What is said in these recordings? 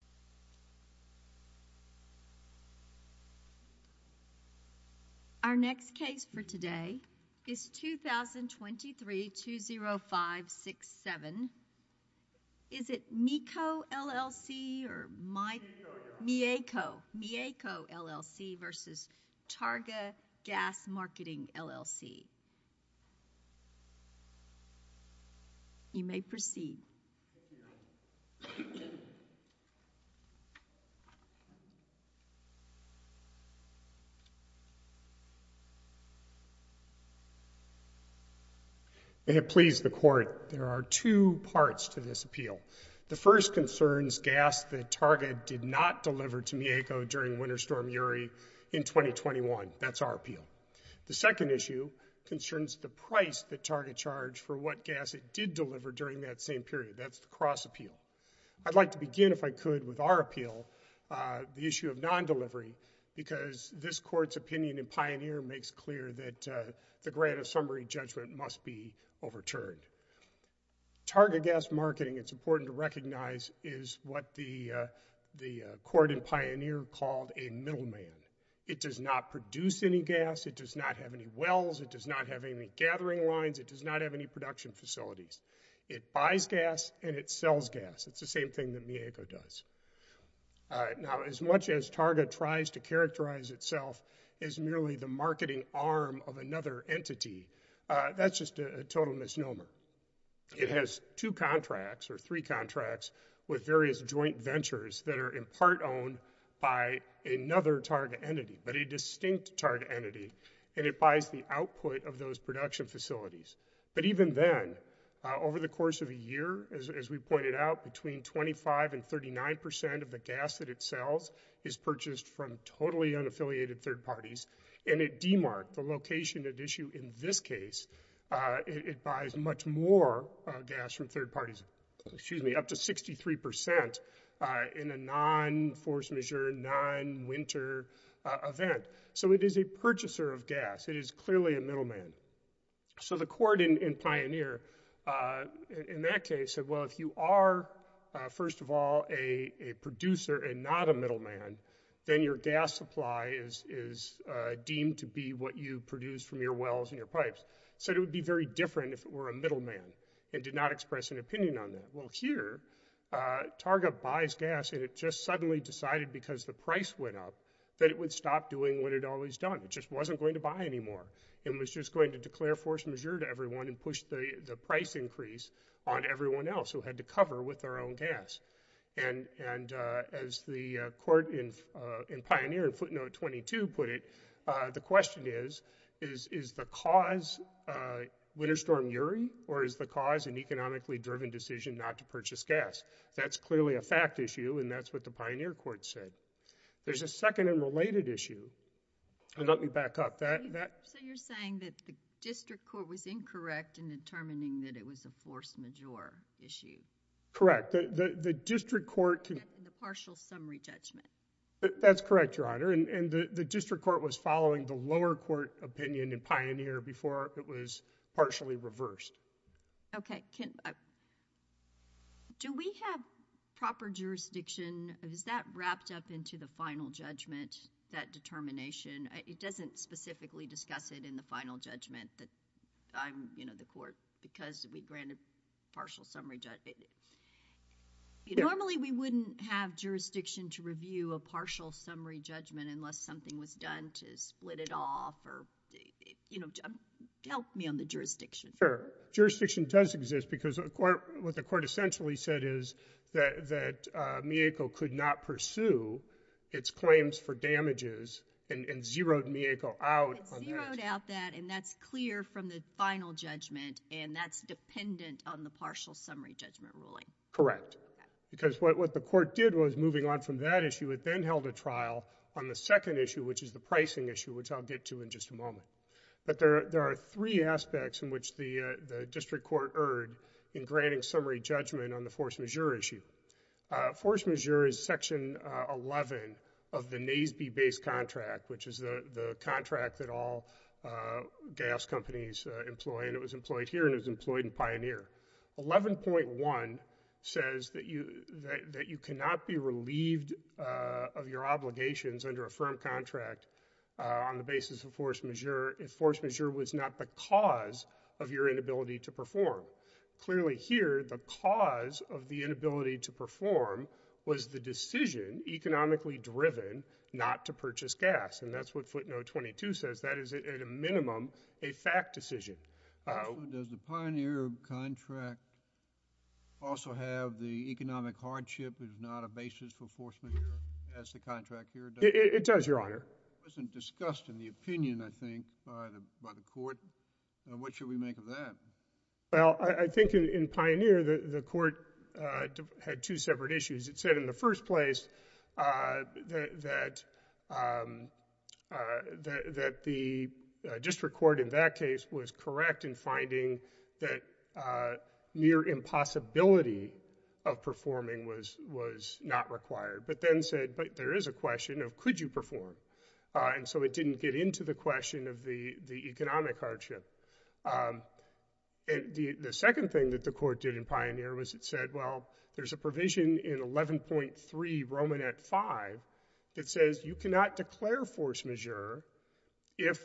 LLC. Our next case for today is 2023-20567. Is it MIECO LLC or MIECO LLC v. Targa Gas Marketing LLC? You may proceed. May it please the Court, there are two parts to this appeal. The first concerns gas that Targa did not deliver to MIECO during Winter Storm Yuri in 2021. That's our appeal. The second issue concerns the price that Targa charged for what gas it did deliver during that same period. That's the cross appeal. I'd like to begin, if I could, with our appeal, the issue of non-delivery, because this Court's opinion in Pioneer makes clear that the grant of summary judgment must be overturned. Targa Gas Marketing, it's important to recognize, is what the Court in Pioneer called a middleman. It does not produce any gas, it does not have any wells, it does not have any gathering lines, it does not have any production facilities. It buys gas and it sells gas. It's the same thing that MIECO does. Now, as much as Targa tries to characterize itself as merely the marketing arm of another entity, that's just a total misnomer. It has two contracts, or three contracts, with various joint ventures that are in part owned by another Targa entity, but a distinct Targa entity, and it buys the output of those production facilities. But even then, over the course of a year, as we pointed out, between 25 and 39 percent of the gas that it sells is purchased from totally unaffiliated third parties, and it demarked the location at issue in this case. It buys much more gas from third parties, excuse me, up to 63 percent in a non-force majeure, non-winter event. So it is a purchaser of gas, it is clearly a middleman. So the Court in Pioneer, in that case, said, well, if you are, first of all, a producer and not a middleman, then your gas supply is deemed to be what you produce from your wells and your pipes. Said it would be very different if it were a middleman, and did not express an opinion on that. Well, here, Targa buys gas and it just suddenly decided, because the price went up, that it would stop doing what it always done. It just wasn't going to buy anymore. It was just going to declare force majeure to everyone and push the price increase on everyone else who had to cover with their own gas. And as the Court in Pioneer, in footnote 22, put it, the question is, is the cause winter storm URI, or is the cause an economically driven decision not to purchase gas? That's clearly a fact issue, and that's what the Pioneer Court said. There's a second and related issue, and let me back up. So you're saying that the District Court was incorrect in determining that it was a force majeure issue? Correct. The District Court. In the partial summary judgment? That's correct, Your Honor, and the District Court was following the lower court opinion in Pioneer before it was partially reversed. Okay. Do we have proper jurisdiction? Is that wrapped up into the final judgment, that determination? It doesn't specifically discuss it in the final judgment that I'm, you know, the Court, because we granted partial summary judgment. Normally, we wouldn't have jurisdiction to review a partial summary judgment unless something was done to split it off or, you know, help me on the jurisdiction. Sure. Jurisdiction does exist, because what the Court essentially said is that Mieko could not pursue its claims for damages and zeroed Mieko out. It zeroed out that, and that's clear from the final judgment, and that's dependent on the partial summary judgment ruling. Correct, because what the Court did was, moving on from that issue, it then held a trial on the second issue, which is the pricing issue, which I'll get to in just a moment, but there are three aspects in which the District Court erred in granting summary judgment on the force majeure issue. Force majeure is section 11 of the Naseby-based contract, which is the contract that all gas companies employ, and it was employed here, and it was employed in Pioneer. 11.1 says that you cannot be relieved of your obligations under a contract on the basis of force majeure if force majeure was not the cause of your inability to perform. Clearly here, the cause of the inability to perform was the decision economically driven not to purchase gas, and that's what footnote 22 says. That is, at a minimum, a fact decision. Does the Pioneer contract also have the economic hardship is not a basis for force majeure as the contract here does? It does, Your Honor. It wasn't discussed in the opinion, I think, by the Court. What should we make of that? Well, I think in Pioneer, the Court had two separate issues. It said in the first place that the District Court in that case was correct in that near impossibility of performing was not required, but then said, but there is a question of could you perform, and so it didn't get into the question of the economic hardship. The second thing that the Court did in Pioneer was it said, well, there's a provision in 11.3 5 that says you cannot declare force majeure if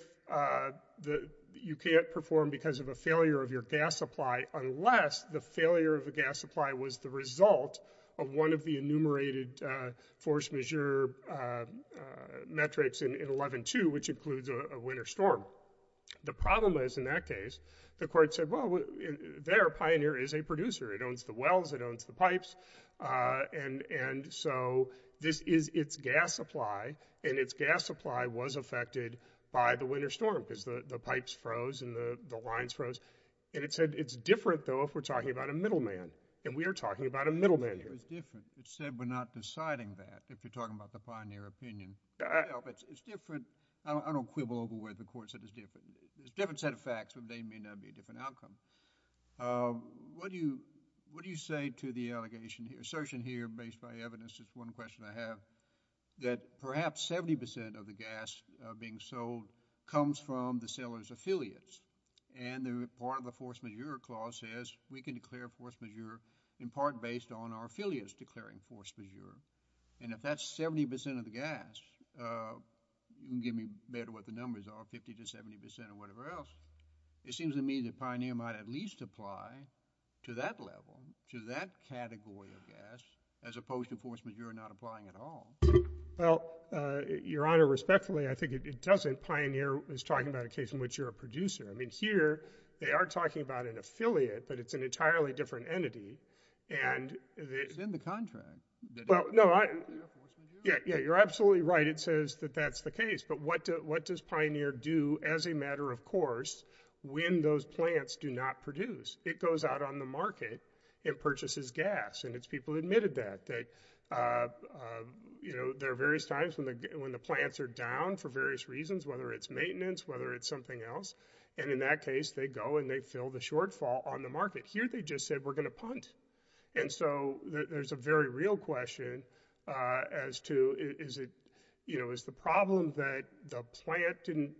you can't perform because of a failure of your gas supply unless the failure of the gas supply was the result of one of the enumerated force majeure metrics in 11.2, which includes a winter storm. The problem is in that case, the Court said, well, there, Pioneer is a producer. It owns the wells. It owns the pipes, and so this is its gas supply, and its gas supply was affected by the winter storm because the pipes froze and the lines froze, and it said it's different, though, if we're talking about a middleman, and we are talking about a middleman here. It's different. It said we're not deciding that if you're talking about the Pioneer opinion. It's different. I don't quibble over where the Court said it's different. It's a different set of facts, but they may not be a different outcome. What do you say to the allegation here, assertion here based by evidence, is one question I have, that perhaps 70 percent of the gas being sold comes from the seller's affiliates, and part of the force majeure clause says we can declare force majeure in part based on our affiliates declaring force majeure, and if that's 70 percent of the gas, you can give me better what the numbers are, 50 to 70 percent or whatever else. It seems to me that Pioneer might at least apply to that level, to that category of gas, as opposed to force majeure not applying at all. Well, Your Honor, respectfully, I think it doesn't. Pioneer is talking about a case in which you're a producer. I mean, here they are talking about an affiliate, but it's an entirely different entity, and it's in the contract. Well, no, yeah, yeah, you're absolutely right. It says that that's the case, but what does Pioneer do as a matter of course when those plants do not produce? It goes out on the market and purchases gas, and its people admitted that. They, you know, there are various times when the plants are down for various reasons, whether it's maintenance, whether it's something else, and in that case they go and they fill the shortfall on the market. Here they just said we're going to punt, and so there's a very real question as to is it, you know, is the problem that the plant didn't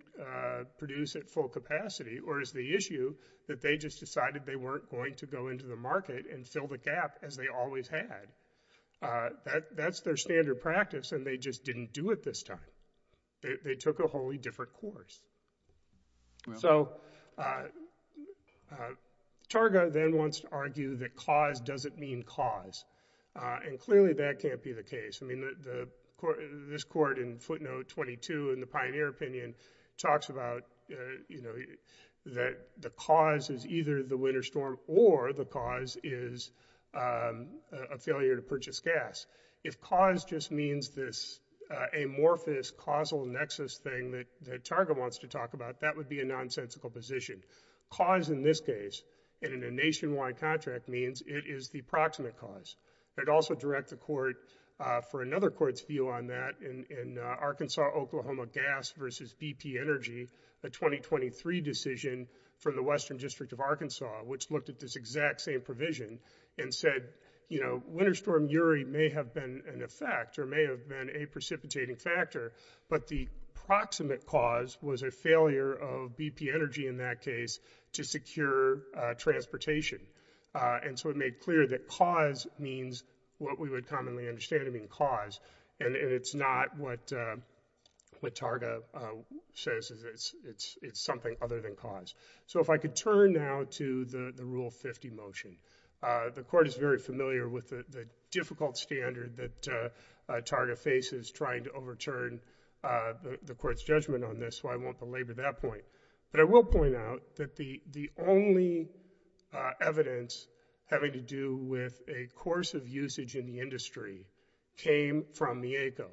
produce at full capacity, or is the issue that they just decided they weren't going to go into the market and fill the gap as they always had? That's their standard practice, and they just didn't do it this time. They took a wholly different course. So Targa then wants to argue that cause doesn't mean cause, and clearly that can't be the case. I mean, this court in footnote 22 in the Pioneer opinion talks about, you know, that the cause is either the winter storm or the cause is a failure to purchase gas. If cause just means this amorphous causal nexus thing that Targa wants to talk about, that would be a nonsensical position. Cause in this case, and in a nationwide contract, means it is the proximate cause. I'd also direct the court for another court's view on that in Arkansas-Oklahoma gas versus BP energy, the 2023 decision for the Western District of Arkansas, which looked at this exact same provision and said, you know, winter storm URI may have been an effect or may have been a precipitating factor, but the proximate cause was a failure of BP energy in that case to secure transportation. And so it made clear that cause means what we would commonly understand to mean cause, and it's not what Targa says. It's something other than cause. So if I could turn now to the Rule 50 motion. The court is very familiar with the difficult standard that Targa faces trying to overturn the court's judgment on this, so I won't belabor that point, but I will point out that the only evidence having to do with a course of usage in the industry came from Mieko.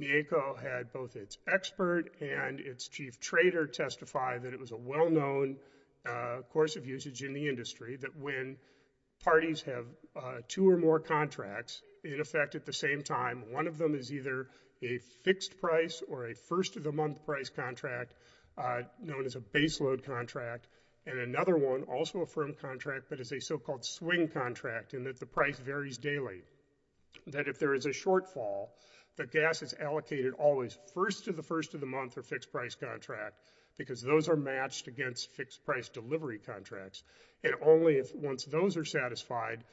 Mieko had both its expert and its chief trader testify that it was a well-known course of usage in the industry that when parties have two or more contracts in effect at the same time, one of them is either a fixed price or a first-of-the-month price contract known as a baseload contract, and another one, also a firm contract, but is a so-called swing contract in that the price varies daily. That if there is a shortfall, the gas is allocated always first of the first of the month or fixed price contract because those are matched against fixed delivery contracts, and only once those are satisfied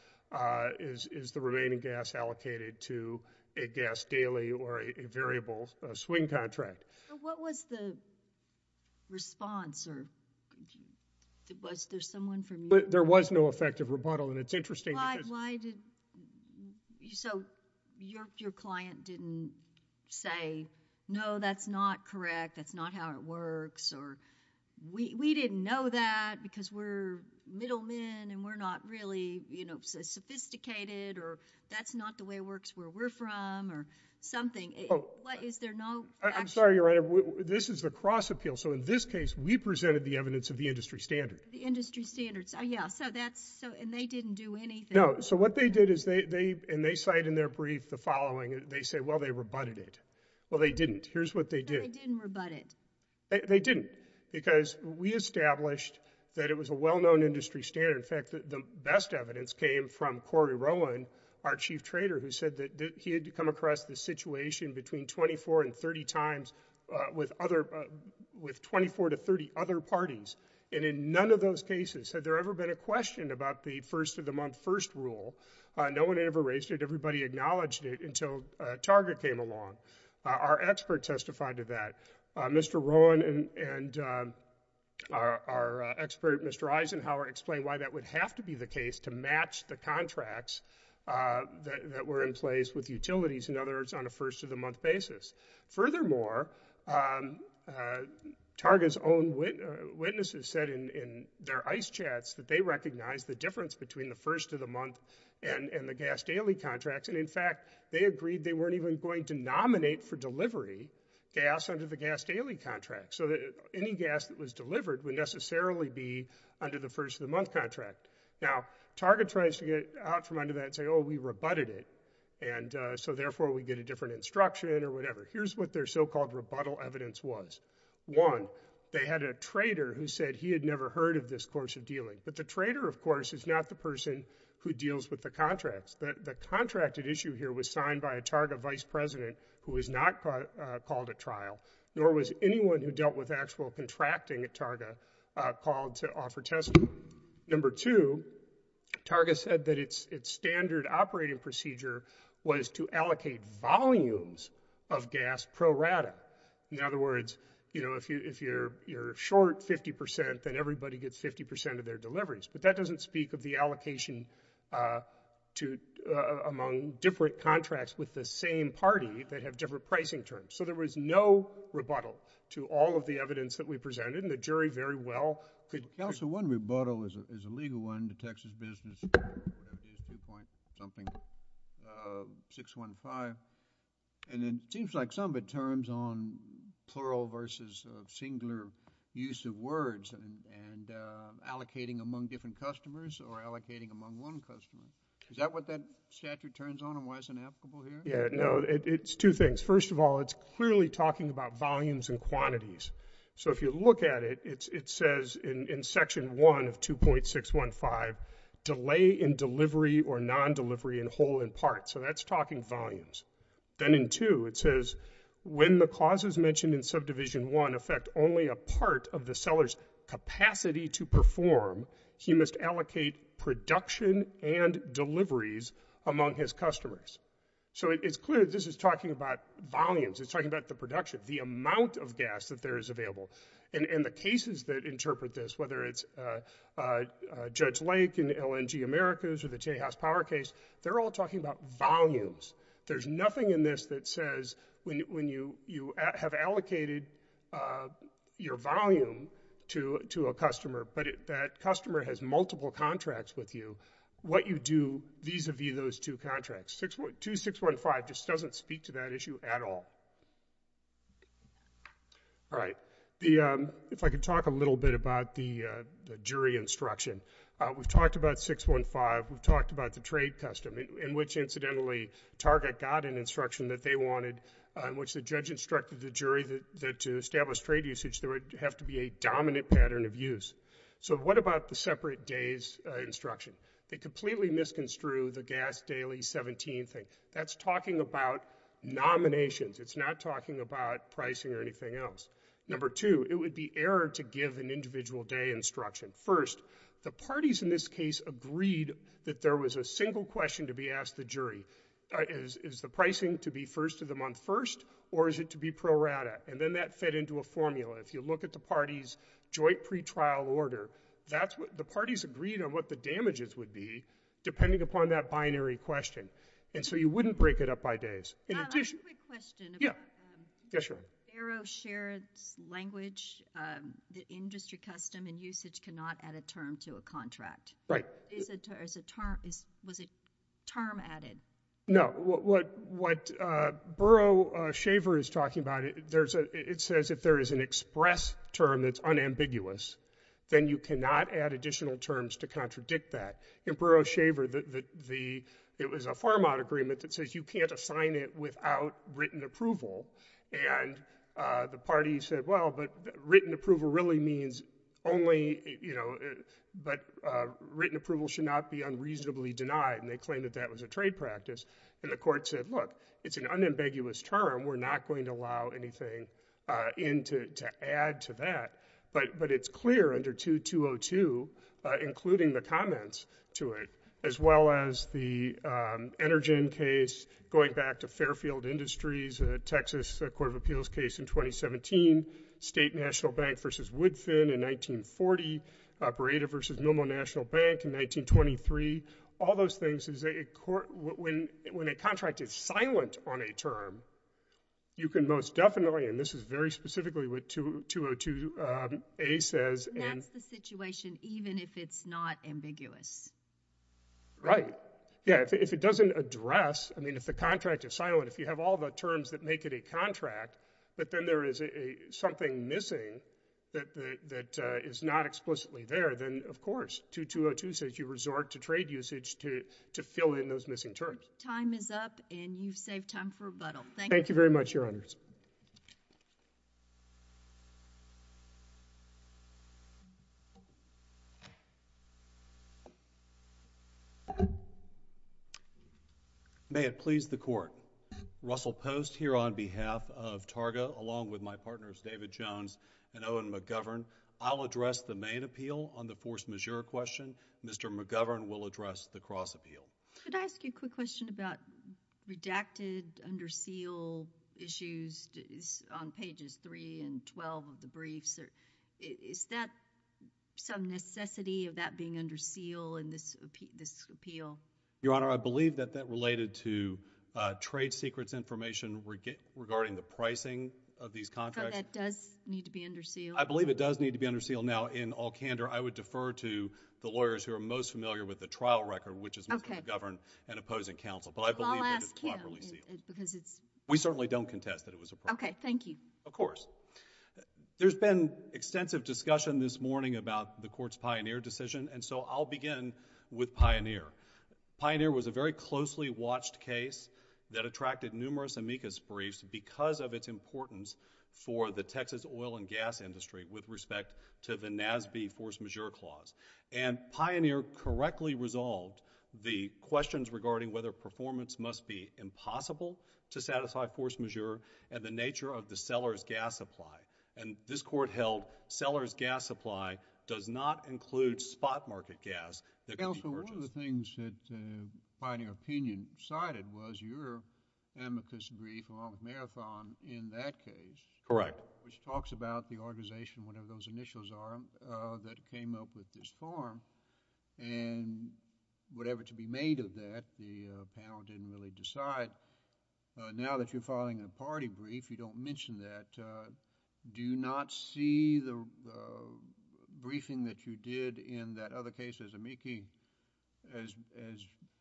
is the remaining gas allocated to a gas daily or a variable swing contract. What was the response, or was there someone from Mieko? There was no effective rebuttal, and it's interesting. So your client didn't say, no, that's not correct, that's not how it works, or we didn't know that because we're middlemen and we're not really sophisticated, or that's not the way it works where we're from, or something. Is there no action? I'm sorry, Your Honor. This is the cross-appeal. So in this case, we presented the evidence of the industry standard. The industry standards. Yeah, and they didn't do anything? No. So what they did is, and they cite in their brief the following, they say, well, they rebutted it. Well, they didn't. Here's what they did. But they didn't rebut it. They didn't, because we established that it was a well-known industry standard. In fact, the best evidence came from Corey Rowan, our chief trader, who said that he had come across this situation between 24 and 30 times with 24 to 30 other parties, and in none of those cases had there ever been a question about the first of the month first rule. No one ever raised it. Everybody acknowledged it until Target came along. Our expert testified to that. Mr. Rowan and our expert, Mr. Eisenhower, explained why that would have to be the case to match the contracts that were in place with utilities, in other words, on a first of the month basis. Furthermore, Target's own witnesses said in their ICE chats that they recognized the difference between the first of the month and the gas daily contracts. And in fact, they agreed they weren't even going to nominate for delivery gas under the gas daily contract, so that any gas that was delivered would necessarily be under the first of the month contract. Now, Target tries to get out from under that and say, oh, we rebutted it, and so therefore we get a different instruction or whatever. Here's what their so-called rebuttal evidence was. One, they had a trader who said he had never heard of this course of dealing. But the trader, of course, is not the person who deals with the contracts. The contracted issue was signed by a Target vice president who was not called at trial, nor was anyone who dealt with actual contracting at Target called to offer testimony. Number two, Target said that its standard operating procedure was to allocate volumes of gas pro rata. In other words, if you're short 50 percent, then everybody gets 50 percent of their deliveries. But that doesn't the same party that have different pricing terms. So there was no rebuttal to all of the evidence that we presented, and the jury very well could. Counsel, one rebuttal is a legal one to Texas business, 2. something, 615. And it seems like some of it turns on plural versus singular use of words and allocating among different customers or allocating among one customer. Is that what statute turns on and why it's inapplicable here? Yeah, no, it's two things. First of all, it's clearly talking about volumes and quantities. So if you look at it, it says in section one of 2.615, delay in delivery or non-delivery in whole and part. So that's talking volumes. Then in two, it says when the clauses mentioned in subdivision one affect only a part of the seller's capacity to perform, he must allocate production and deliveries among his customers. So it's clear this is talking about volumes. It's talking about the production, the amount of gas that there is available. And the cases that interpret this, whether it's Judge Lake in LNG Americas or the J House Power case, they're all talking about volumes. There's nothing in this that says when you have allocated your volume to a customer but that customer has multiple contracts with you, what you do vis-a-vis those two contracts. 2.615 just doesn't speak to that issue at all. All right. If I could talk a little bit about the jury instruction. We've talked about 6.15. We've talked about the trade custom in which, incidentally, Target got an instruction that they wanted in which the judge instructed the jury that to establish trade usage, there would have to be a dominant pattern of use. So what about the separate days instruction? They completely misconstrued the gas daily 17 thing. That's talking about nominations. It's not talking about pricing or anything else. Number two, it would be error to give an individual day instruction. First, the parties in this case agreed that there was a single question to be asked the jury. Is the pricing to be first of the month first or is it to be pro rata? And then that fed into a formula. If you look at the party's joint pretrial order, the parties agreed on what the damages would be depending upon that binary question. And so you wouldn't break it up by days. I have a quick question. Barrow shared its language that industry custom and usage cannot add a term to a contract, right? Is it as a term? Is was it term added? No. What? What? Burrow shaver is talking about it. There's a it says if there is an express term that's unambiguous, then you cannot add additional terms to contradict that in Burrow shaver that the it was a farm out agreement that says you can't assign it without written approval. And the parties said, well, but written approval really means only, you know, but written approval should not be unreasonably denied. And they claim that that was a trade practice. And the court said, look, it's an unambiguous term. We're not going to allow anything into to add to that. But but it's clear under two two oh two, including the comments to it, as well as the energy in case, going back to Fairfield Industries, Texas Court of Appeals case in 2017, State National Bank versus Woodfin in 1940, operator versus Nomo National Bank in 1923. All those things is a court when when a contract is silent on a term, you can most definitely and this is very specifically with two two oh two a says that's the situation, even if it's not ambiguous. Right? Yeah. If it doesn't address, I mean, if the contract is silent, if you have all the terms that make it a contract, but then there is a something missing that that is not explicitly there, then of course, two two oh two says you resort to trade usage to to fill in those missing terms. Time is up and you've saved time for rebuttal. Thank you very much, Your Honors. May it please the court. Russell Post here on behalf of Targa, along with my partners David Jones and Owen McGovern, I'll address the main appeal on the force majeure question. Mr. McGovern will address the cross appeal. Could I ask you a quick question about redacted under seal issues on pages three and twelve of the briefs? Is that some necessity of that being under seal in this this appeal? Your Honor, I believe that related to trade secrets information regarding the pricing of these contracts. That does need to be under seal? I believe it does need to be under seal. Now, in all candor, I would defer to the lawyers who are most familiar with the trial record, which is Mr. McGovern and opposing counsel, but I believe that it's properly sealed. We certainly don't contest that it was approved. Okay. Thank you. Of course. There's been extensive discussion this morning about the Court's Pioneer decision, and so I'll begin with Pioneer. Pioneer was a very closely watched case that attracted numerous amicus briefs because of its importance for the Texas oil and gas industry with respect to the NASB force majeure clause. Pioneer correctly resolved the questions regarding whether performance must be impossible to satisfy force majeure and the nature of the seller's gas supply does not include spot market gas. Counsel, one of the things that Pioneer opinion cited was your amicus brief along with Marathon in that case. Correct. Which talks about the organization, whatever those initials are, that came up with this form, and whatever to be made of that, the panel didn't really decide. Now that you're filing a party brief, you don't mention that. Do you not see the briefing that you did in that other case as amici as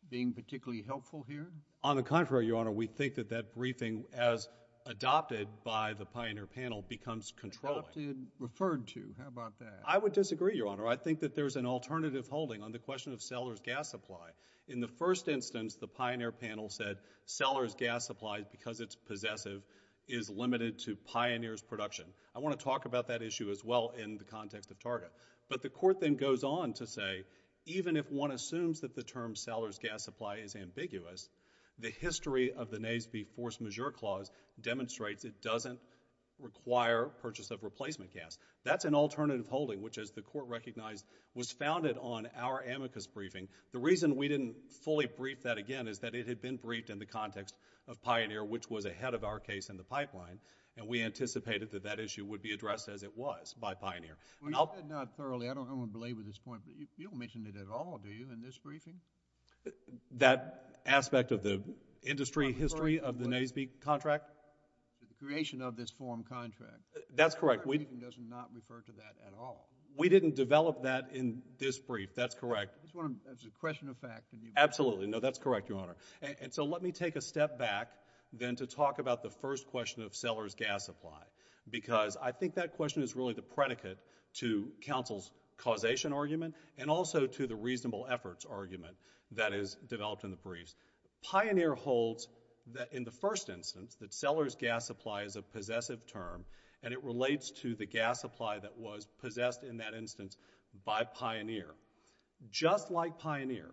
being particularly helpful here? On the contrary, Your Honor, we think that that briefing as adopted by the Pioneer panel becomes controlling. Adopted, referred to. How about that? I would disagree, Your Honor. I think that there's an alternative holding on the question of seller's gas supply. In the first instance, the Pioneer panel said seller's gas supply, because it's possessive, is limited to Pioneer's production. I want to talk about that issue as well in the context of Target. But the Court then goes on to say, even if one assumes that the term seller's gas supply is ambiguous, the history of the NASB force majeure clause demonstrates it doesn't require purchase of replacement gas. That's an alternative holding, which as the Court recognized, was founded on our amicus briefing. The reason we didn't fully brief that again is that it had been briefed in the context of Pioneer, which was ahead of our case in the pipeline, and we anticipated that that issue would be addressed as it was by Pioneer. You said not thoroughly. I don't want to belabor this point, but you don't mention it at all, do you, in this briefing? That aspect of the industry history of the NASB contract? The creation of this form contract. That's correct. The briefing does not refer to that at all. We didn't develop that in this brief. That's correct. I just want to question the fact. Absolutely. No, that's correct, Your Honor. And so let me take a step back then to talk about the first question of seller's gas supply, because I think that question is really the predicate to counsel's causation argument and also to the reasonable efforts argument that is developed in the briefs. Pioneer holds that in the first instance, that seller's gas supply is a possessive term, and it relates to the gas supply that was possessed in that instance by Pioneer. Just like Pioneer,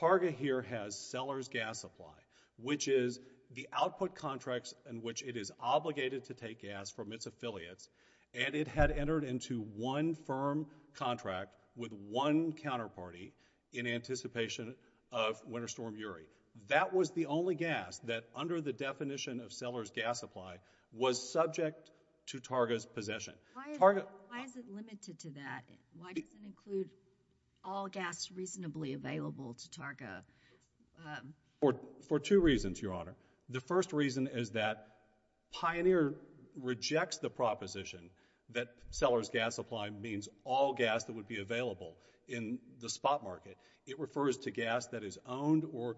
Targa here has seller's gas supply, which is the output contracts in which it is obligated to take gas from its affiliates, and it had entered into one firm contract with one counterparty in anticipation of Winter Storm Urey. That was the only gas that, under the definition of seller's gas supply, was subject to Targa's possession. Why is it limited to that? Why does it include all gas reasonably available to Targa? For two reasons, Your Honor. The first reason is that Pioneer rejects the proposition that seller's gas supply means all gas that would be available in the spot market. It refers to gas that is owned or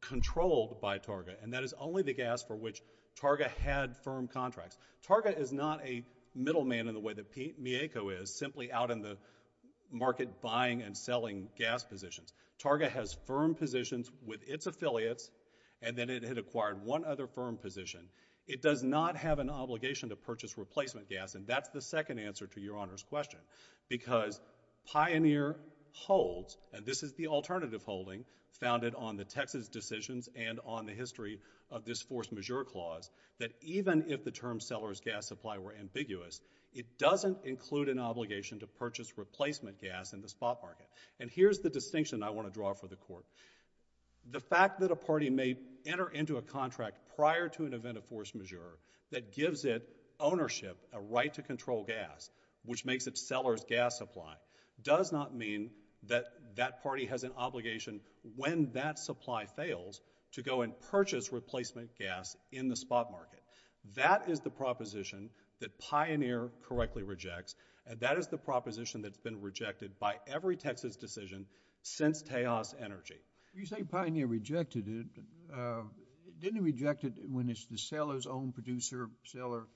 controlled by Targa, and that is only the gas for which Targa had firm contracts. Targa is not a middleman in the way that Mieko is, simply out in the market buying and selling gas positions. Targa has firm positions with its affiliates, and then it had acquired one other firm position. It does not have an obligation to purchase replacement gas, and that's the second answer to Your Honor's question, because Pioneer holds, and this is the alternative holding, founded on the Texas decisions and on the history of this force majeure clause, that even if the seller's gas supply were ambiguous, it doesn't include an obligation to purchase replacement gas in the spot market. And here's the distinction I want to draw for the Court. The fact that a party may enter into a contract prior to an event of force majeure that gives it ownership, a right to control gas, which makes it seller's gas supply, does not mean that that party has an obligation, when that supply fails, to go and purchase replacement gas. That is the proposition that Pioneer correctly rejects, and that is the proposition that's been rejected by every Texas decision since Taos Energy. You say Pioneer rejected it. Didn't it reject it when it's the seller's own producer, seller's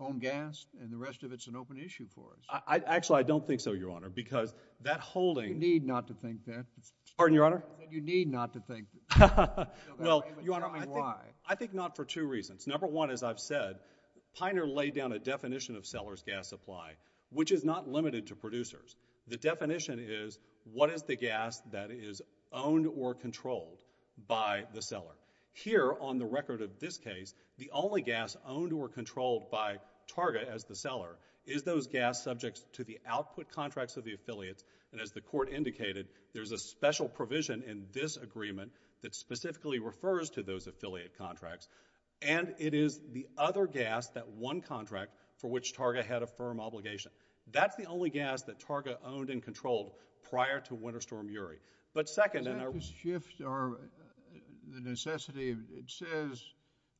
own gas, and the rest of it's an open issue for us? Actually, I don't think so, Your Honor, because that holding— You need not to think that. Pardon, Your Honor? You need not to think that. No, Your Honor, I think not for two reasons. Number one, as I've said, Pioneer laid down a definition of seller's gas supply, which is not limited to producers. The definition is, what is the gas that is owned or controlled by the seller? Here, on the record of this case, the only gas owned or controlled by Target as the seller is those gas subject to the output contracts of the affiliates, and as the Court indicated, there's a special provision in this agreement that specifically refers to those affiliate contracts, and it is the other gas, that one contract for which Target had a firm obligation. That's the only gas that Target owned and controlled prior to Winter Storm Urey, but second— Does that just shift the necessity? It says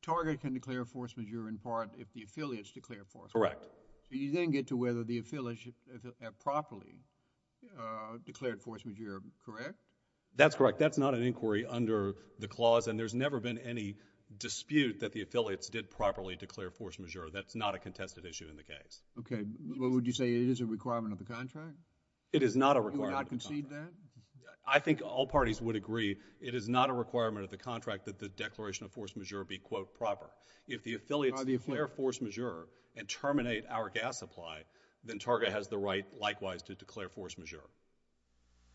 Target can declare a force majeure in part if the affiliates declare a force majeure. Correct. You didn't get to whether the affiliates properly declared force majeure, correct? That's correct. That's not an inquiry under the clause, and there's never been any dispute that the affiliates did properly declare force majeure. That's not a contested issue in the case. Okay, but would you say it is a requirement of the contract? It is not a requirement of the contract. You would not concede that? I think all parties would agree it is not a requirement of the contract that the declaration of force majeure be, quote, proper. If the affiliates declare force majeure and terminate our gas supply, then Target has the right, likewise, to declare force majeure.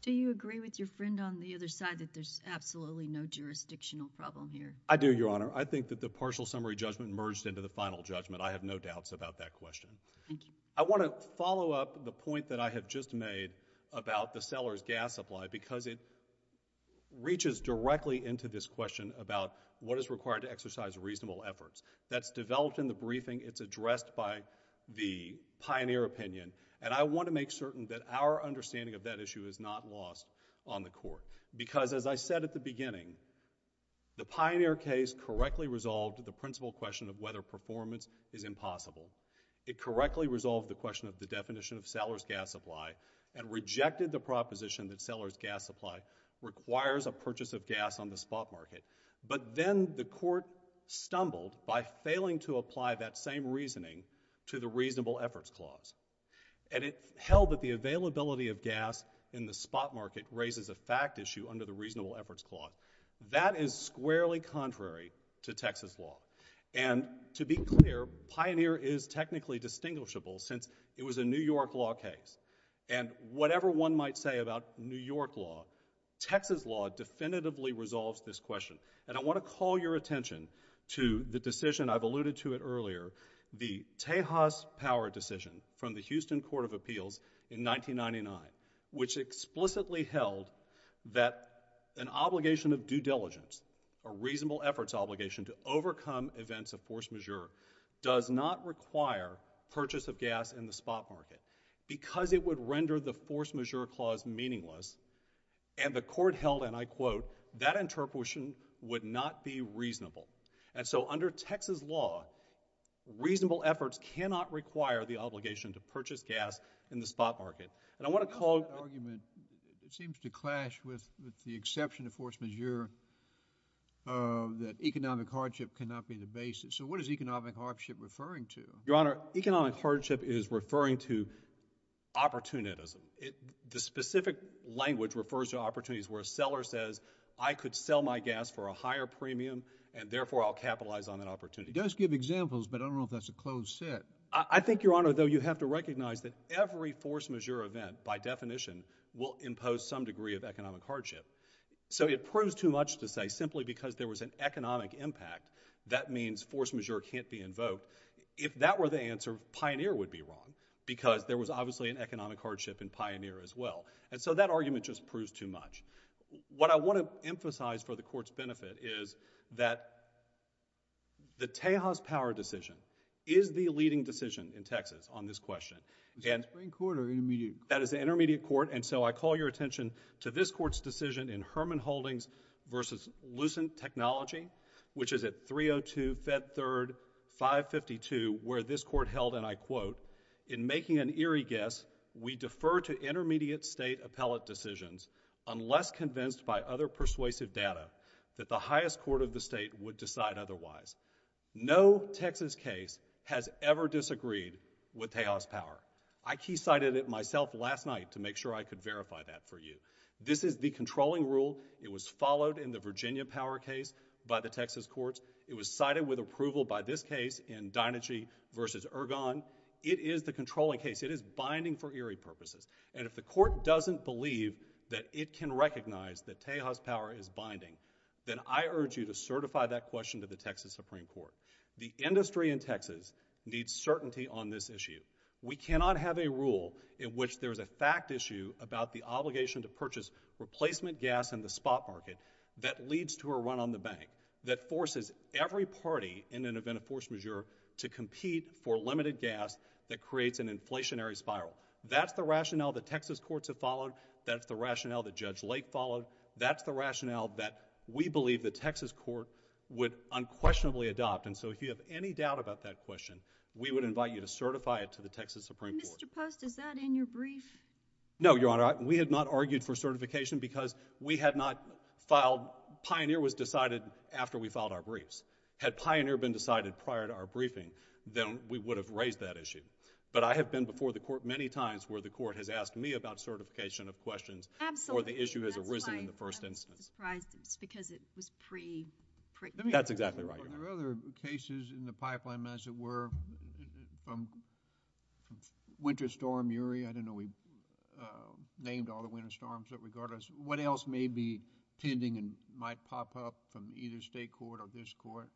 Do you agree with your friend on the other side that there's absolutely no jurisdictional problem here? I do, Your Honor. I think that the partial summary judgment merged into the final judgment. I have no doubts about that question. Thank you. I want to follow up the point that I have just made about the seller's gas supply because it reaches directly into this question about what is required to exercise reasonable efforts. That's developed in the briefing. It's addressed by the pioneer opinion, and I want to make certain that our understanding of that issue is not lost on the court because, as I said at the beginning, the pioneer case correctly resolved the principal question of whether performance is impossible. It correctly resolved the question of the definition of seller's gas supply and rejected the proposition that seller's gas supply requires a purchase of gas on the spot market, but then the court stumbled by failing to apply that same reasoning to the reasonable efforts clause, and it held that the availability of gas in the spot market raises a fact issue under the reasonable efforts clause. That is squarely contrary to Texas law, and to be clear, pioneer is technically distinguishable since it was a New York law case, and whatever one might say about New York law, Texas law definitively resolves this question, and I want to call your attention to the decision I've alluded to it earlier, the Tejas Power decision from the Houston Court of Appeals in 1999, which explicitly held that an obligation of due diligence, a reasonable efforts obligation to overcome events of force majeure does not require purchase of gas in the spot market because it would render the force majeure clause meaningless, and the court held, and I quote, that interpretation would not be reasonable, and so under Texas law, reasonable efforts cannot require the obligation to purchase gas in the spot market, and I want to call... That argument, it seems to clash with the exception of force majeure, uh, that economic hardship cannot be the basis, so what is economic hardship referring to? Your Honor, economic hardship is referring to opportunism. It, the specific language refers to opportunities where a seller says, I could sell my gas for a premium, and therefore, I'll capitalize on that opportunity. Just give examples, but I don't know if that's a closed set. I think, Your Honor, though you have to recognize that every force majeure event, by definition, will impose some degree of economic hardship, so it proves too much to say simply because there was an economic impact, that means force majeure can't be invoked. If that were the answer, Pioneer would be wrong because there was obviously an economic hardship in Pioneer as well, and so that argument just proves too much. What I want to emphasize for the Court's benefit is that the Tejas power decision is the leading decision in Texas on this question, and... Is it a Supreme Court or an intermediate court? That is an intermediate court, and so I call your attention to this Court's decision in Herman Holdings v. Lucent Technology, which is at 302 Fed 3rd, 552, where this Court held, and I quote, in making an eerie guess, we defer to intermediate state appellate decisions unless convinced by other persuasive data that the highest court of the state would decide otherwise. No Texas case has ever disagreed with Tejas power. I key cited it myself last night to make sure I could verify that for you. This is the controlling rule. It was followed in the Virginia power case by the Texas courts. It was cited with approval by this case in Deinergy v. Ergon. It is the controlling case. It is binding for eerie purposes, and if the Court doesn't believe that it can recognize that Tejas power is binding, then I urge you to certify that question to the Texas Supreme Court. The industry in Texas needs certainty on this issue. We cannot have a rule in which there is a fact issue about the obligation to purchase replacement gas in the spot market that leads to a run on the bank, that forces every party in an event of force majeure to compete for limited gas that creates an inflationary spiral. That's the rationale that Texas courts have followed. That's the rationale that Judge Lake followed. That's the rationale that we believe the Texas court would unquestionably adopt, and so if you have any doubt about that question, we would invite you to certify it to the Texas Supreme Court. Mr. Post, is that in your brief? No, Your Honor. We had not argued for certification because we had not filed, Pioneer was decided after we filed our briefs. Had Pioneer been decided prior to our briefing, then we would have raised that issue, but I have been before the court many times where the court has asked me about certification of questions. Absolutely. Or the issue has arisen in the first instance. That's why I was surprised because it was pre-pregnancy. That's exactly right, Your Honor. Are there other cases in the pipeline, as it were, from Winter Storm, URI, I don't know, we named all the Winter Storms that regard us. What else may be pending and might pop up from either state court or this court?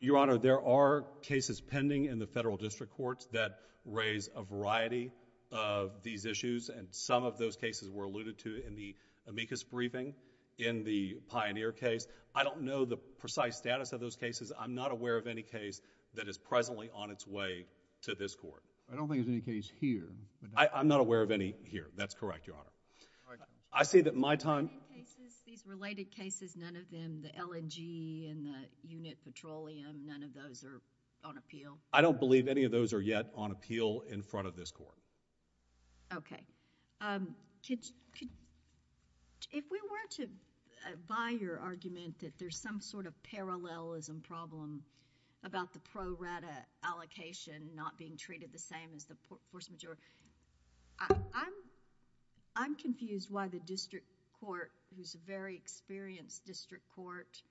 Your Honor, there are cases pending in the federal district courts that raise a variety of these issues, and some of those cases were alluded to in the amicus briefing in the Pioneer case. I don't know the precise status of those cases. I'm not aware of any case that is presently on its way to this court. I don't think there's any case here. I'm not aware of any here. That's correct, Your Honor. I see that my time... These related cases, none of them, the LNG and the unit petroleum, none of those are on appeal? I don't believe any of those are yet on appeal in front of this court. Okay. If we were to buy your argument that there's some sort of parallelism problem about the pro rata allocation not being treated the same as the force majeure, I'm confused why the district court, who's a very experienced district court,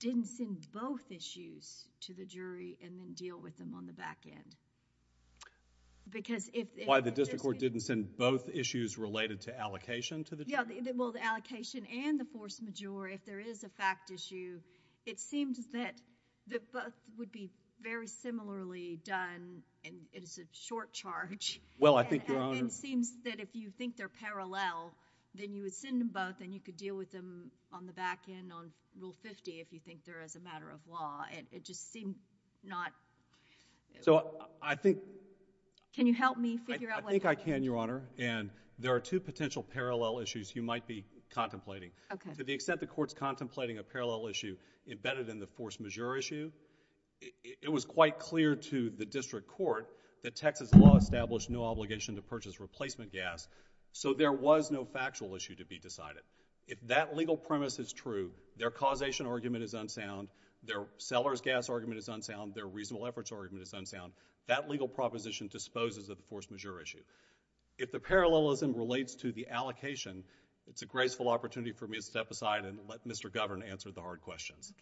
didn't send both issues to the jury and then deal with them on the back end. Why the district court didn't send both issues related to allocation to the jury? The allocation and the force majeure, if there is a fact issue, it seems that both would be very similarly done, and it is a short charge. Well, I think, Your Honor... It seems that if you think they're parallel, then you would send them both and you could deal with them on the back end on Rule 50 if you think there is a matter of law. It just seemed not... I think... Can you help me figure out what... I think I can, Your Honor. There are two potential parallel issues you might be contemplating. To the extent the court's contemplating a parallel issue embedded in the force majeure issue, it was quite clear to the district court that Texas law established no obligation to purchase replacement gas, so there was no factual issue to be decided. If that legal premise is true, their causation argument is unsound, their seller's gas argument is unsound, their reasonable efforts argument is unsound, that legal proposition disposes of the force majeure issue. If the parallelism relates to the allocation, it's a graceful opportunity for me to step aside and let Mr. Govern answer the hard questions.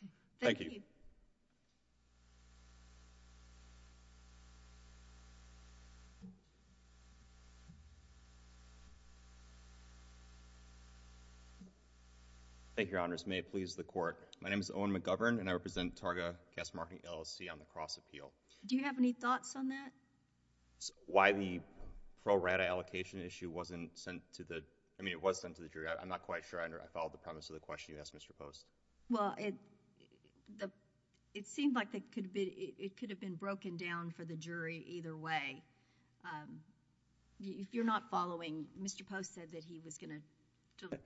Thank you. Thank you, Your Honors. May it please the Court. My name is Owen McGovern and I represent Targa Gas Marketing LLC on the Cross-Appeal. Do you have any thoughts on that? Why the pro rata allocation issue wasn't sent to the... I mean, it was sent to the jury. I'm not quite sure I followed the premise of the question you asked, Mr. Post. It seemed like it could have been broken down for the jury either way. If you're not following, Mr. Post said that he was going to...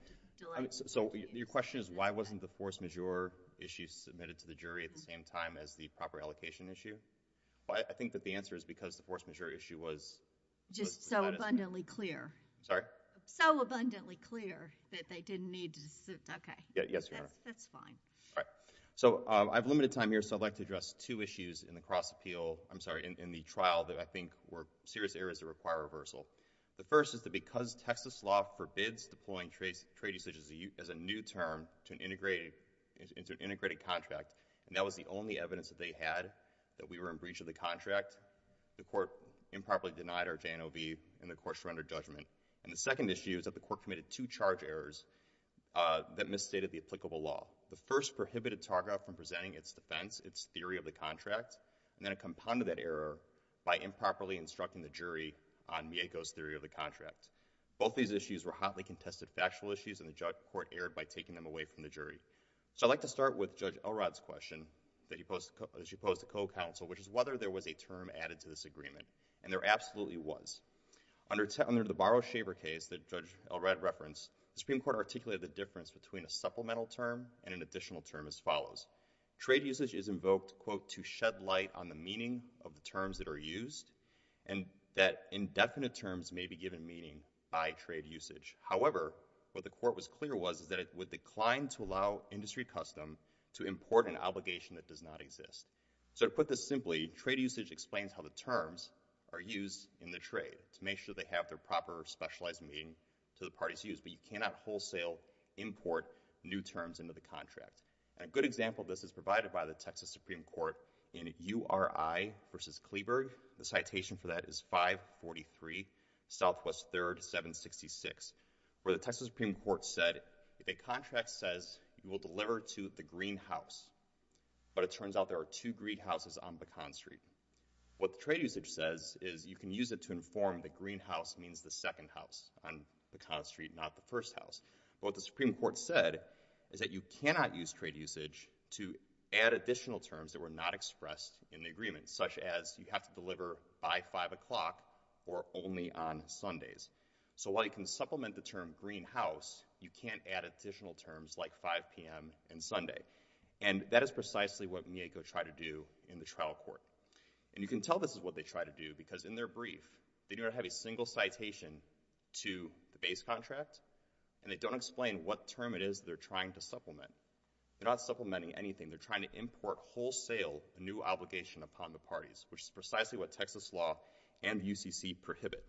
So, your question is, why wasn't the force majeure issue submitted to the jury at the same time as the proper allocation issue? I think that the answer is because the force majeure issue was... Just so abundantly clear. Sorry? So abundantly clear that they didn't need to... Okay, that's fine. All right. So, I've limited time here, so I'd like to address two issues in the trial that I think were serious areas that require reversal. The first is that because Texas law forbids deploying trade usage as a new term to an integrated contract, and that was the only evidence that they had that we were in breach of the contract, the court improperly denied our J&OB and the court surrendered judgment. And the second issue is that the court committed two charge errors that misstated the applicable law. The first prohibited Targa from presenting its defense, its theory of the contract, and then it compounded that charge error by improperly instructing the jury on Mieko's theory of the contract. Both these issues were hotly contested factual issues, and the court erred by taking them away from the jury. So I'd like to start with Judge Elrod's question that he posed to co-counsel, which is whether there was a term added to this agreement, and there absolutely was. Under the Barrow-Shaver case that Judge Elrod referenced, the Supreme Court articulated the difference between a supplemental term and an additional term as follows. Trade usage is invoked, quote, to shed light on the meaning of the terms that are used, and that indefinite terms may be given meaning by trade usage. However, what the court was clear was that it would decline to allow industry custom to import an obligation that does not exist. So to put this simply, trade usage explains how the terms are used in the trade to make sure they have their proper specialized meaning to the parties used, but you cannot wholesale import new terms into the contract. And a good example of this is provided by the Texas Supreme Court in URI v. Kleberg. The citation for that is 543 Southwest 3rd 766, where the Texas Supreme Court said, if a contract says you will deliver to the green house, but it turns out there are two green houses on Pecan Street. What the trade usage says is you can use it to inform the green house means the second house on Pecan Street, not the first house. But what the Supreme Court said is that you cannot use trade usage to add additional terms that were not expressed in the agreement, such as you have to deliver by 5 o'clock or only on Sundays. So while you can supplement the term green house, you can't add additional terms like 5 p.m. and Sunday. And that is precisely what Mieko tried to do in the trial court. And you can tell this is what they tried to do because in their brief, they didn't have a single citation to the base contract, and they don't explain what term it is they're trying to supplement. They're not supplementing anything. They're trying to import wholesale a new obligation upon the parties, which is precisely what Texas law and UCC prohibit.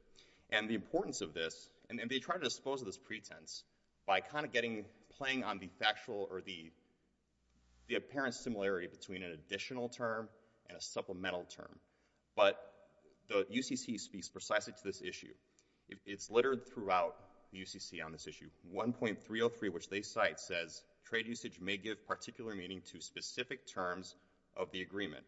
And the importance of this, and they try to dispose of this pretense by kind of getting, playing on the factual or the apparent similarity between an additional term and a supplemental term. But the UCC speaks precisely to this issue. It's littered throughout UCC on this issue. 1.303, which they cite, says trade usage may give particular meaning to specific terms of the agreement.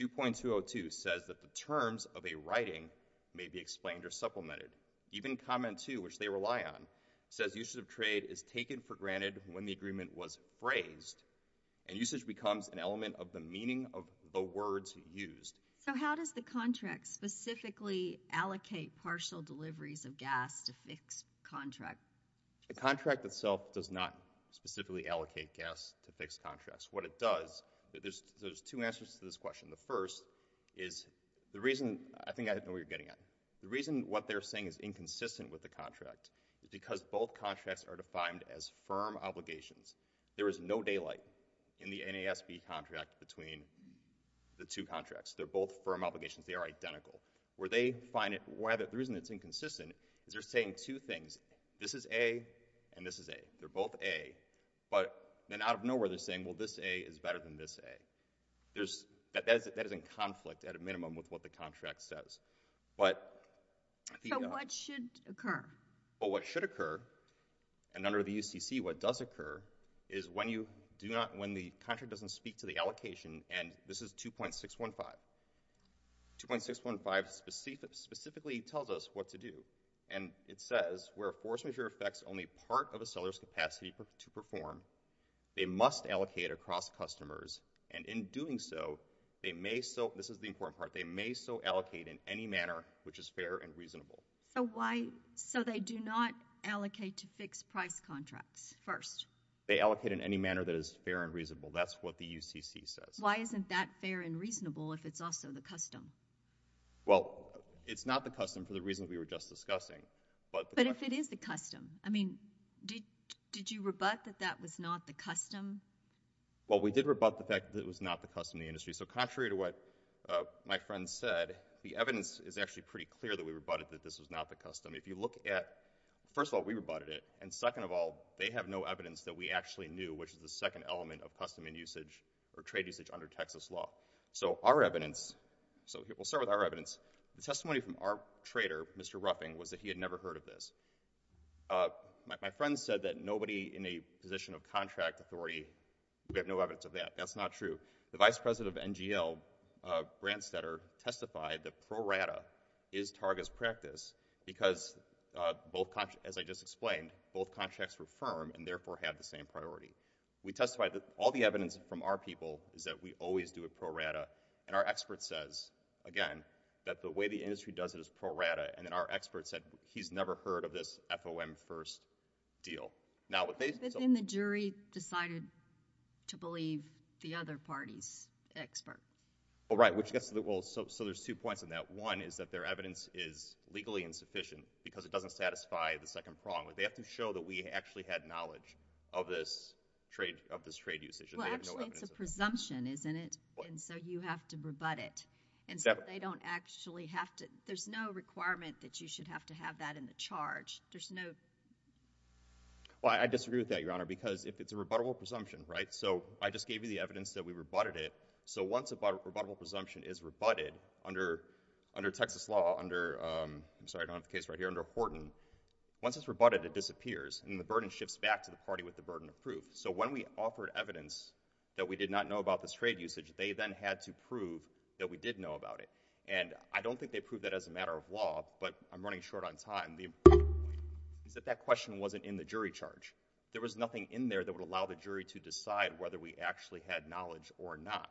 2.202 says that the terms of a writing may be explained or supplemented. Even comment 2, which they rely on, says usage of trade is taken for granted when the agreement was phrased, and usage becomes an element of the meaning of the words used. So how does the contract specifically allocate partial deliveries of gas to fix contracts? The contract itself does not specifically allocate gas to fix contracts. What it does, there's two answers to this question. The first is the reason, I think I know what you're getting at. The reason what they're saying is inconsistent with the contract is because both contracts are defined as firm obligations. There is no daylight in the NASB contract between the two contracts. They're both firm obligations. They are identical. Where they find it, the reason it's inconsistent is they're saying two things. This is A, and this is A. They're both A, but then out of nowhere, they're saying, well, this A is better than this A. There's, that is in conflict at a minimum with what the contract says. But, So what should occur? What should occur, and under the UCC, what does occur is when you do not, when the contract doesn't speak to the allocation, and this is 2.615. 2.615 specifically tells us what to do, and it says where a force majeure affects only part of a seller's capacity to perform, they must allocate across customers, and in doing so, they may so, this is the important manner, which is fair and reasonable. So why, so they do not allocate to fixed price contracts first? They allocate in any manner that is fair and reasonable. That's what the UCC says. Why isn't that fair and reasonable if it's also the custom? Well, it's not the custom for the reason we were just discussing, but the question is But if it is the custom, I mean, did, did you rebut that that was not the custom? Well we did rebut the fact that it was not the custom of the industry. So contrary to what my friend said, the evidence is actually pretty clear that we rebutted that this was not the custom. If you look at, first of all, we rebutted it, and second of all, they have no evidence that we actually knew, which is the second element of custom and usage or trade usage under Texas law. So our evidence, so we'll start with our evidence. The testimony from our trader, Mr. Ruffing, was that he had never heard of this. My friend said that nobody in a position of contract authority, we have no evidence of that. That's not true. The vice president of NGL, uh, Branstetter, testified that pro rata is target's practice because, uh, both contracts, as I just explained, both contracts were firm and therefore had the same priority. We testified that all the evidence from our people is that we always do a pro rata, and our expert says, again, that the way the industry does it is pro rata, and then our expert said he's never heard of this FOM first deal. But then the jury decided to believe the other party's expert. Oh, right, which gets to the, well, so there's two points in that. One is that their evidence is legally insufficient because it doesn't satisfy the second prong. They have to show that we actually had knowledge of this trade, of this trade usage. Well, actually, it's a presumption, isn't it, and so you have to rebut it, and so they don't actually have to, there's no requirement that you should have to have that in the charge. There's no... Well, I disagree with that, Your Honor, because if it's a rebuttable presumption, right, so I just gave you the evidence that we rebutted it, so once a rebuttable presumption is rebutted under, under Texas law, under, um, I'm sorry, I don't have the case right here, under Horton, once it's rebutted, it disappears, and the burden shifts back to the party with the burden of proof. So when we offered evidence that we did not know about this trade usage, they then had to prove that we did know about it, and I don't think they proved that as a matter of law, but I'm running short on time. The important point is that that question wasn't in the jury charge. There was nothing in there that would allow the jury to decide whether we actually had knowledge or not.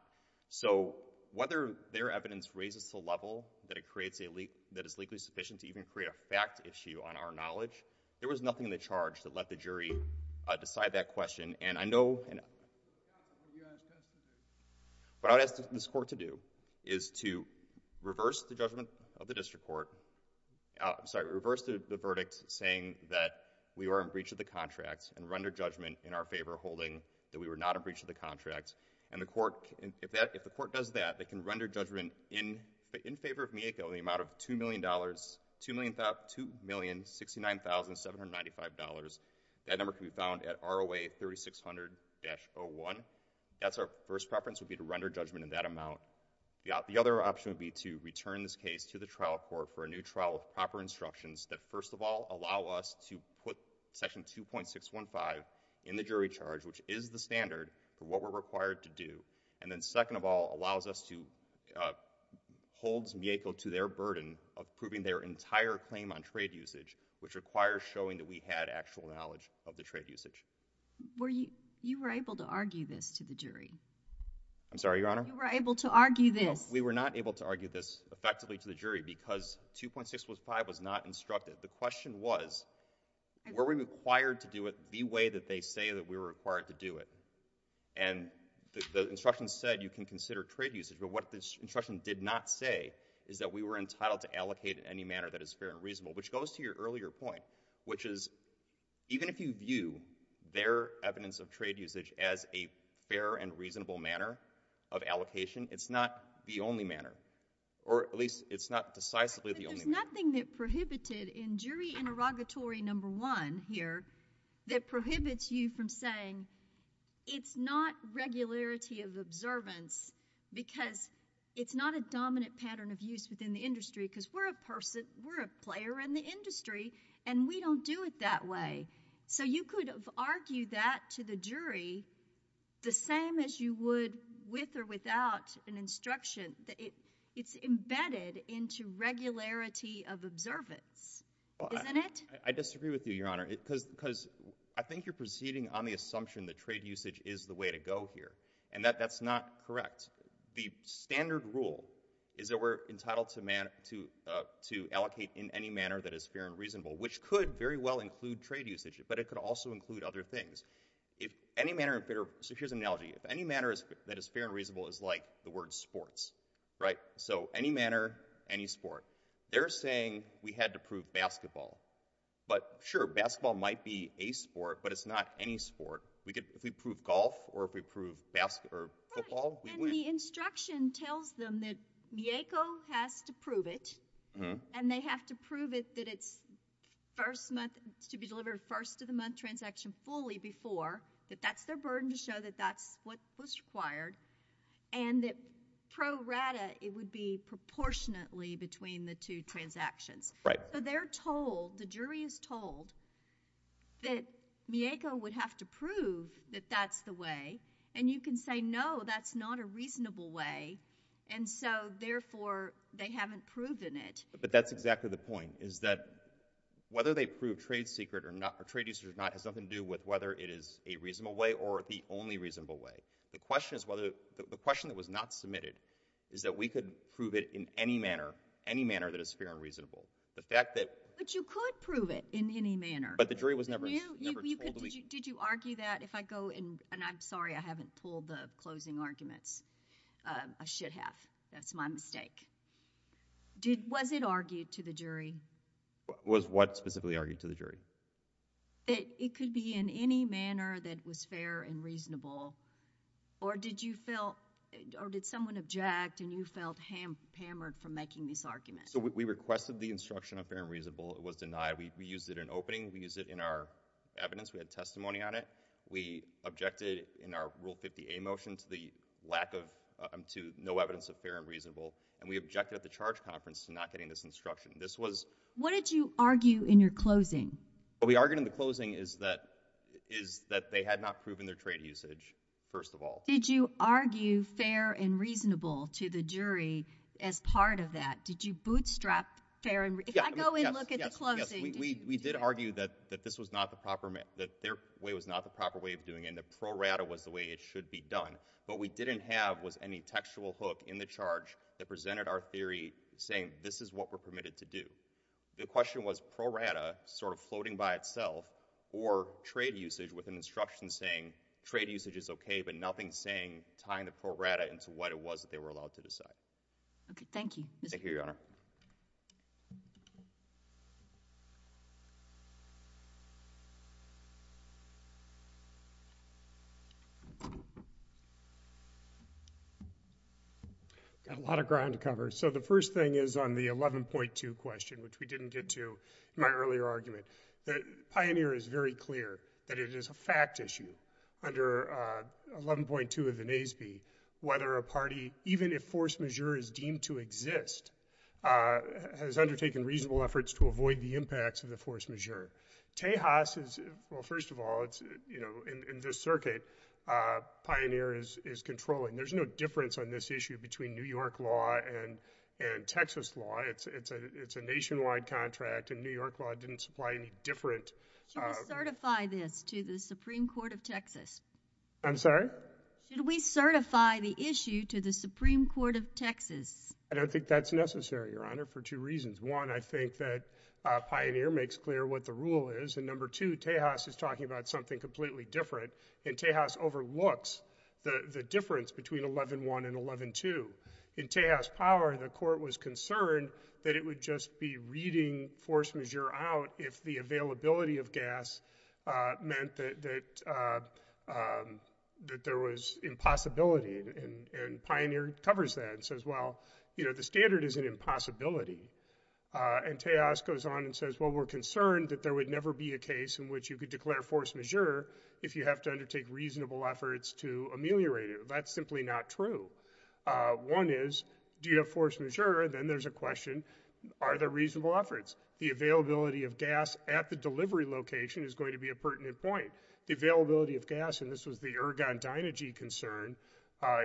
So, whether their evidence raises to a level that it creates a leak, that is legally sufficient to even create a fact issue on our knowledge, there was nothing in the charge that let the jury, uh, decide that question, and I know... Your Honor, I'm just... I'm sorry, we reversed the, the verdict saying that we were in breach of the contract and rendered judgment in our favor holding that we were not in breach of the contract, and the court, if that, if the court does that, they can render judgment in, in favor of Miyako in the amount of $2,000,000, $2,000,000, $2,069,795. That number can be found at ROA 3600-01. That's our first preference would be to render judgment in that amount. The, the other option would be to return this case to the trial court for a new trial with proper instructions that, first of all, allow us to put Section 2.615 in the jury charge, which is the standard for what we're required to do, and then, second of all, allows us to, uh, holds Miyako to their burden of proving their entire claim on trade usage, which requires showing that we had actual knowledge of the trade usage. Were you... you were able to argue this to the jury? I'm sorry, Your Honor? You were able to argue this. No, we were not able to argue this effectively to the jury, because 2.615 was not instructed. The question was, were we required to do it the way that they say that we were required to do it? And the, the instructions said you can consider trade usage, but what the instruction did not say is that we were entitled to allocate in any manner that is fair and reasonable, which goes to your earlier point, which is even if you view their evidence of trade usage as a fair and reasonable manner of allocation, it's not the only manner, or at least it's not decisively the only manner. But there's nothing that prohibited in jury interrogatory number one here that prohibits you from saying it's not regularity of observance, because it's not a dominant pattern of use within the industry, because we're a person, we're a player in the industry, and we don't do it that way. So you could argue that to the jury the same as you would with or without an instruction, that it, it's embedded into regularity of observance, isn't it? I disagree with you, Your Honor, because, because I think you're proceeding on the assumption that trade usage is the way to go here, and that, that's not correct. The standard rule is that we're entitled to man, to, uh, to allocate in any manner that is fair and reasonable, which could very well include trade usage, but it could also include other things. If any manner of fair, so here's an analogy, if any manner is, that is fair and reasonable is like the word sports, right? So any manner, any sport. They're saying we had to prove basketball, but sure, basketball might be a sport, but it's not any sport. We could, if we prove golf, or if we prove basketball, or football, we win. Right, and the instruction tells them that YACO has to prove it, and they have to prove it, that it's first month, to be delivered first of the month transaction fully before, that that's their burden to show that that's what was required, and that pro rata, it would be proportionately between the two transactions. Right. So they're told, the jury is told, that YACO would have to prove that that's the way, and you can say, no, that's not a reasonable way, and so, therefore, they haven't proven it. But that's exactly the point, is that, whether they prove trade secret or not, or trade use or not, has nothing to do with whether it is a reasonable way, or the only reasonable way. The question is whether, the question that was not submitted, is that we could prove it in any manner, any manner that is fair and reasonable. The fact that... But you could prove it in any manner. But the jury was never told that we... Did you argue that? If I go in, and I'm sorry, I haven't pulled the closing arguments. I should have. That's my mistake. Was it argued to the jury? Was what specifically argued to the jury? It could be in any manner that was fair and reasonable, or did you feel, or did someone object, and you felt hammered from making this argument? So we requested the instruction of fair and reasonable. It was denied. We used it in opening. We used it in our evidence. We had testimony on it. We objected in our Rule 50A motion to the lack of, to no evidence of fair and reasonable, and we objected at the charge conference to not getting this instruction. This was... What did you argue in your closing? What we argued in the closing is that, is that they had not proven their trade usage, first of all. Did you argue fair and reasonable to the jury as part of that? Did you bootstrap fair and... Yes. If I go in and look at the closing... Yes, yes. We did argue that this was not the proper, that their way was not the proper way of doing it, and the pro rata was the way it should be done. What we didn't have was any textual hook in the charge that presented our theory saying, this is what we're permitted to do. The question was pro rata, sort of floating by itself, or trade usage with an instruction saying, trade usage is okay, but nothing saying, tying the pro rata into what it was that they were allowed to decide. Okay. Thank you. Thank you, Your Honor. I've got a lot of ground to cover. The first thing is on the 11.2 question, which we didn't get to in my earlier argument, that Pioneer is very clear that it is a fact issue under 11.2 of the NASB, whether a party, even if force majeure is deemed to exist, has undertaken reasonable efforts to avoid the impacts of the force majeure. Tejas is... well, first of all, it's, you know, in this circuit, Pioneer is controlling. There's no difference on this issue between New York law and Texas law. It's a nationwide contract, and New York law didn't supply any different... Should we certify this to the Supreme Court of Texas? I'm sorry? Should we certify the issue to the Supreme Court of Texas? I don't think that's necessary, Your Honor, for two reasons. One, I think that Pioneer makes clear what the rule is, and number two, Tejas is talking about something completely different, and Tejas overlooks the difference between 11.1 and 11.2. In Tejas' power, the court was concerned that it would just be reading force majeure out if the availability of gas meant that there was impossibility, and Pioneer covers that and says, well, you know, the standard is an impossibility, and Tejas goes on and says, well, we're concerned that there would never be a case in which you could declare force majeure if you have to undertake reasonable efforts to ameliorate it. That's simply not true. One is, do you have force majeure? Then there's a question, are there reasonable efforts? The availability of gas at the delivery location is going to be a pertinent point. The availability of gas, and this was the Ergon Dynagy concern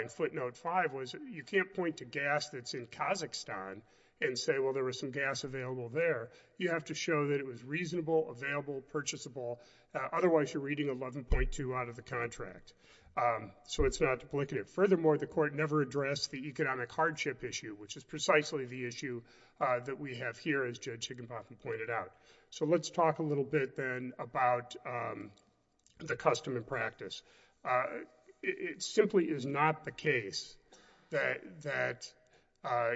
in footnote five, was you can't point to gas that's in Kazakhstan and say, well, there was some gas available there. You have to show that it was reasonable, available, purchasable, otherwise you're reading 11.2 out of the contract, so it's not duplicative. Furthermore, the court never addressed the economic hardship issue, which is precisely the issue that we have here, as Judge Higginbotham pointed out. So let's talk a little bit, then, about the custom and practice. It simply is not the case that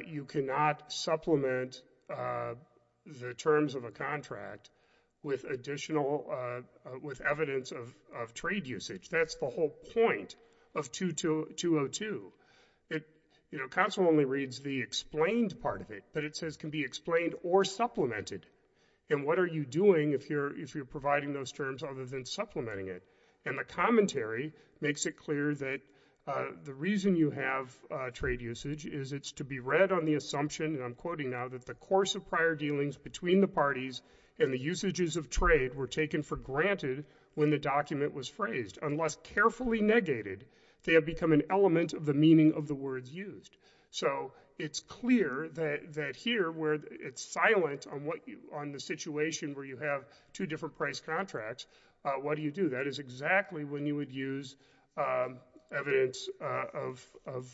you cannot supplement the terms of a contract with additional, with evidence of trade usage. That's the whole point of 2202. It, you know, Council only reads the explained part of it, but it says it can be explained or supplemented, and what are you doing if you're providing those terms other than supplementing it? And the commentary makes it clear that the reason you have trade usage is it's to be read on the assumption, and I'm quoting now, that the course of prior dealings between the parties and the usages of trade were taken for granted when the document was phrased, unless carefully negated, they have become an element of the meaning of the words used. So it's clear that here, where it's silent on the situation where you have two different price contracts, what do you do? That is exactly when you would use evidence of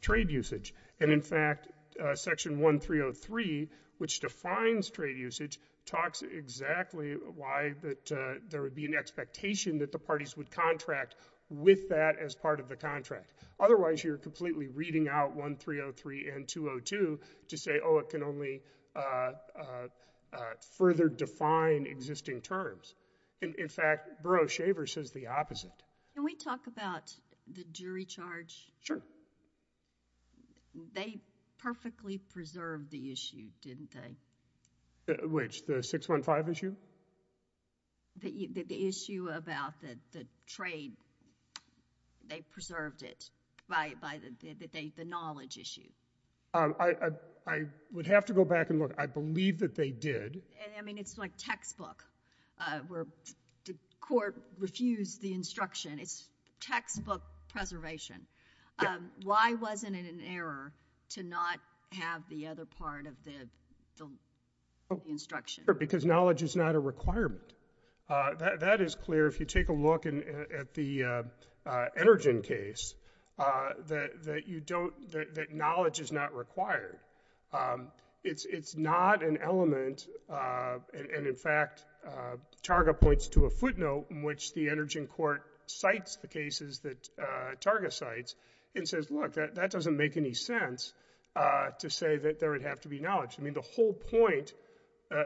trade usage, and in fact, Section 1303, which defines trade usage, talks exactly why that there would be an expectation that the parties would contract with that as part of the contract. Otherwise, you're completely reading out 1303 and 202 to say, oh, it can only further define existing terms, and in fact, Burroughs-Shaver says the opposite. Can we talk about the jury charge? Sure. They perfectly preserved the issue, didn't they? Which? The 615 issue? The issue about the trade. They preserved it by the knowledge issue. I would have to go back and look. I believe that they did. I mean, it's like textbook where the court refused the instruction. It's textbook preservation. Why wasn't it an error to not have the other part of the instruction? Because knowledge is not a requirement. That is clear. If you take a look at the Energin case, that knowledge is not required. It's not an element, and in fact, Targa points to a footnote in which the Energin court cites the cases that Targa cites and says, look, that doesn't make any sense to say that there would have to be knowledge. I mean, the whole point,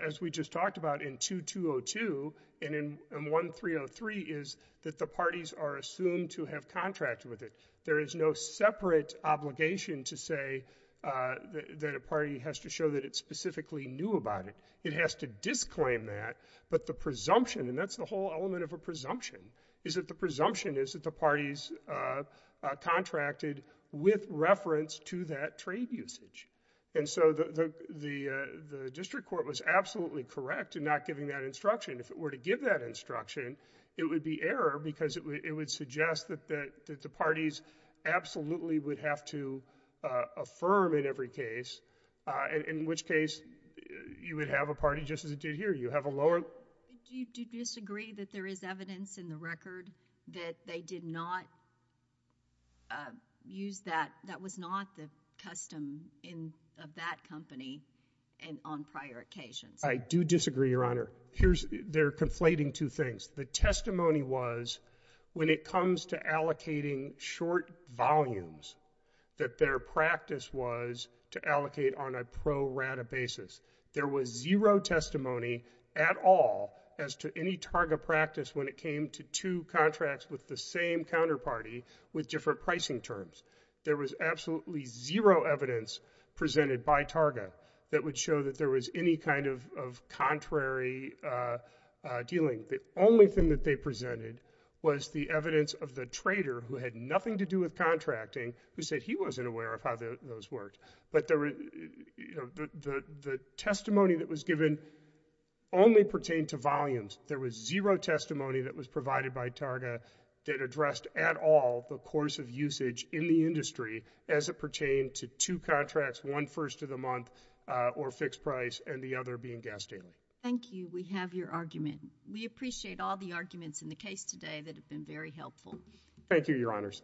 as we just talked about in 2202 and in 1303, is that the parties are assumed to have contracted with it. There is no separate obligation to say that a party has to show that it specifically knew about it. It has to disclaim that, but the presumption, and that's the whole element of a presumption, is that the presumption is that the parties contracted with reference to that trade usage. And so the district court was absolutely correct in not giving that instruction. If it were to give that instruction, it would be error because it would suggest that the parties absolutely would have to affirm in every case, in which case you would have a party just as it did here. You have a lower... Do you disagree that there is evidence in the record that they did not use that, that was not the custom of that company on prior occasions? I do disagree, Your Honor. They're conflating two things. The testimony was when it comes to allocating short volumes, that their practice was to allocate on a pro rata basis. There was zero testimony at all as to any TARGA practice when it came to two contracts with the same counterparty with different pricing terms. There was absolutely zero evidence presented by TARGA that would show that there was any kind of contrary dealing. The only thing that they presented was the evidence of the trader who had nothing to do who said he wasn't aware of how those worked. But the testimony that was given only pertained to volumes. There was zero testimony that was provided by TARGA that addressed at all the course of usage in the industry as it pertained to two contracts, one first of the month or fixed price and the other being gas daily. Thank you. We have your argument. We appreciate all the arguments in the case today that have been very helpful. Thank you, Your Honors.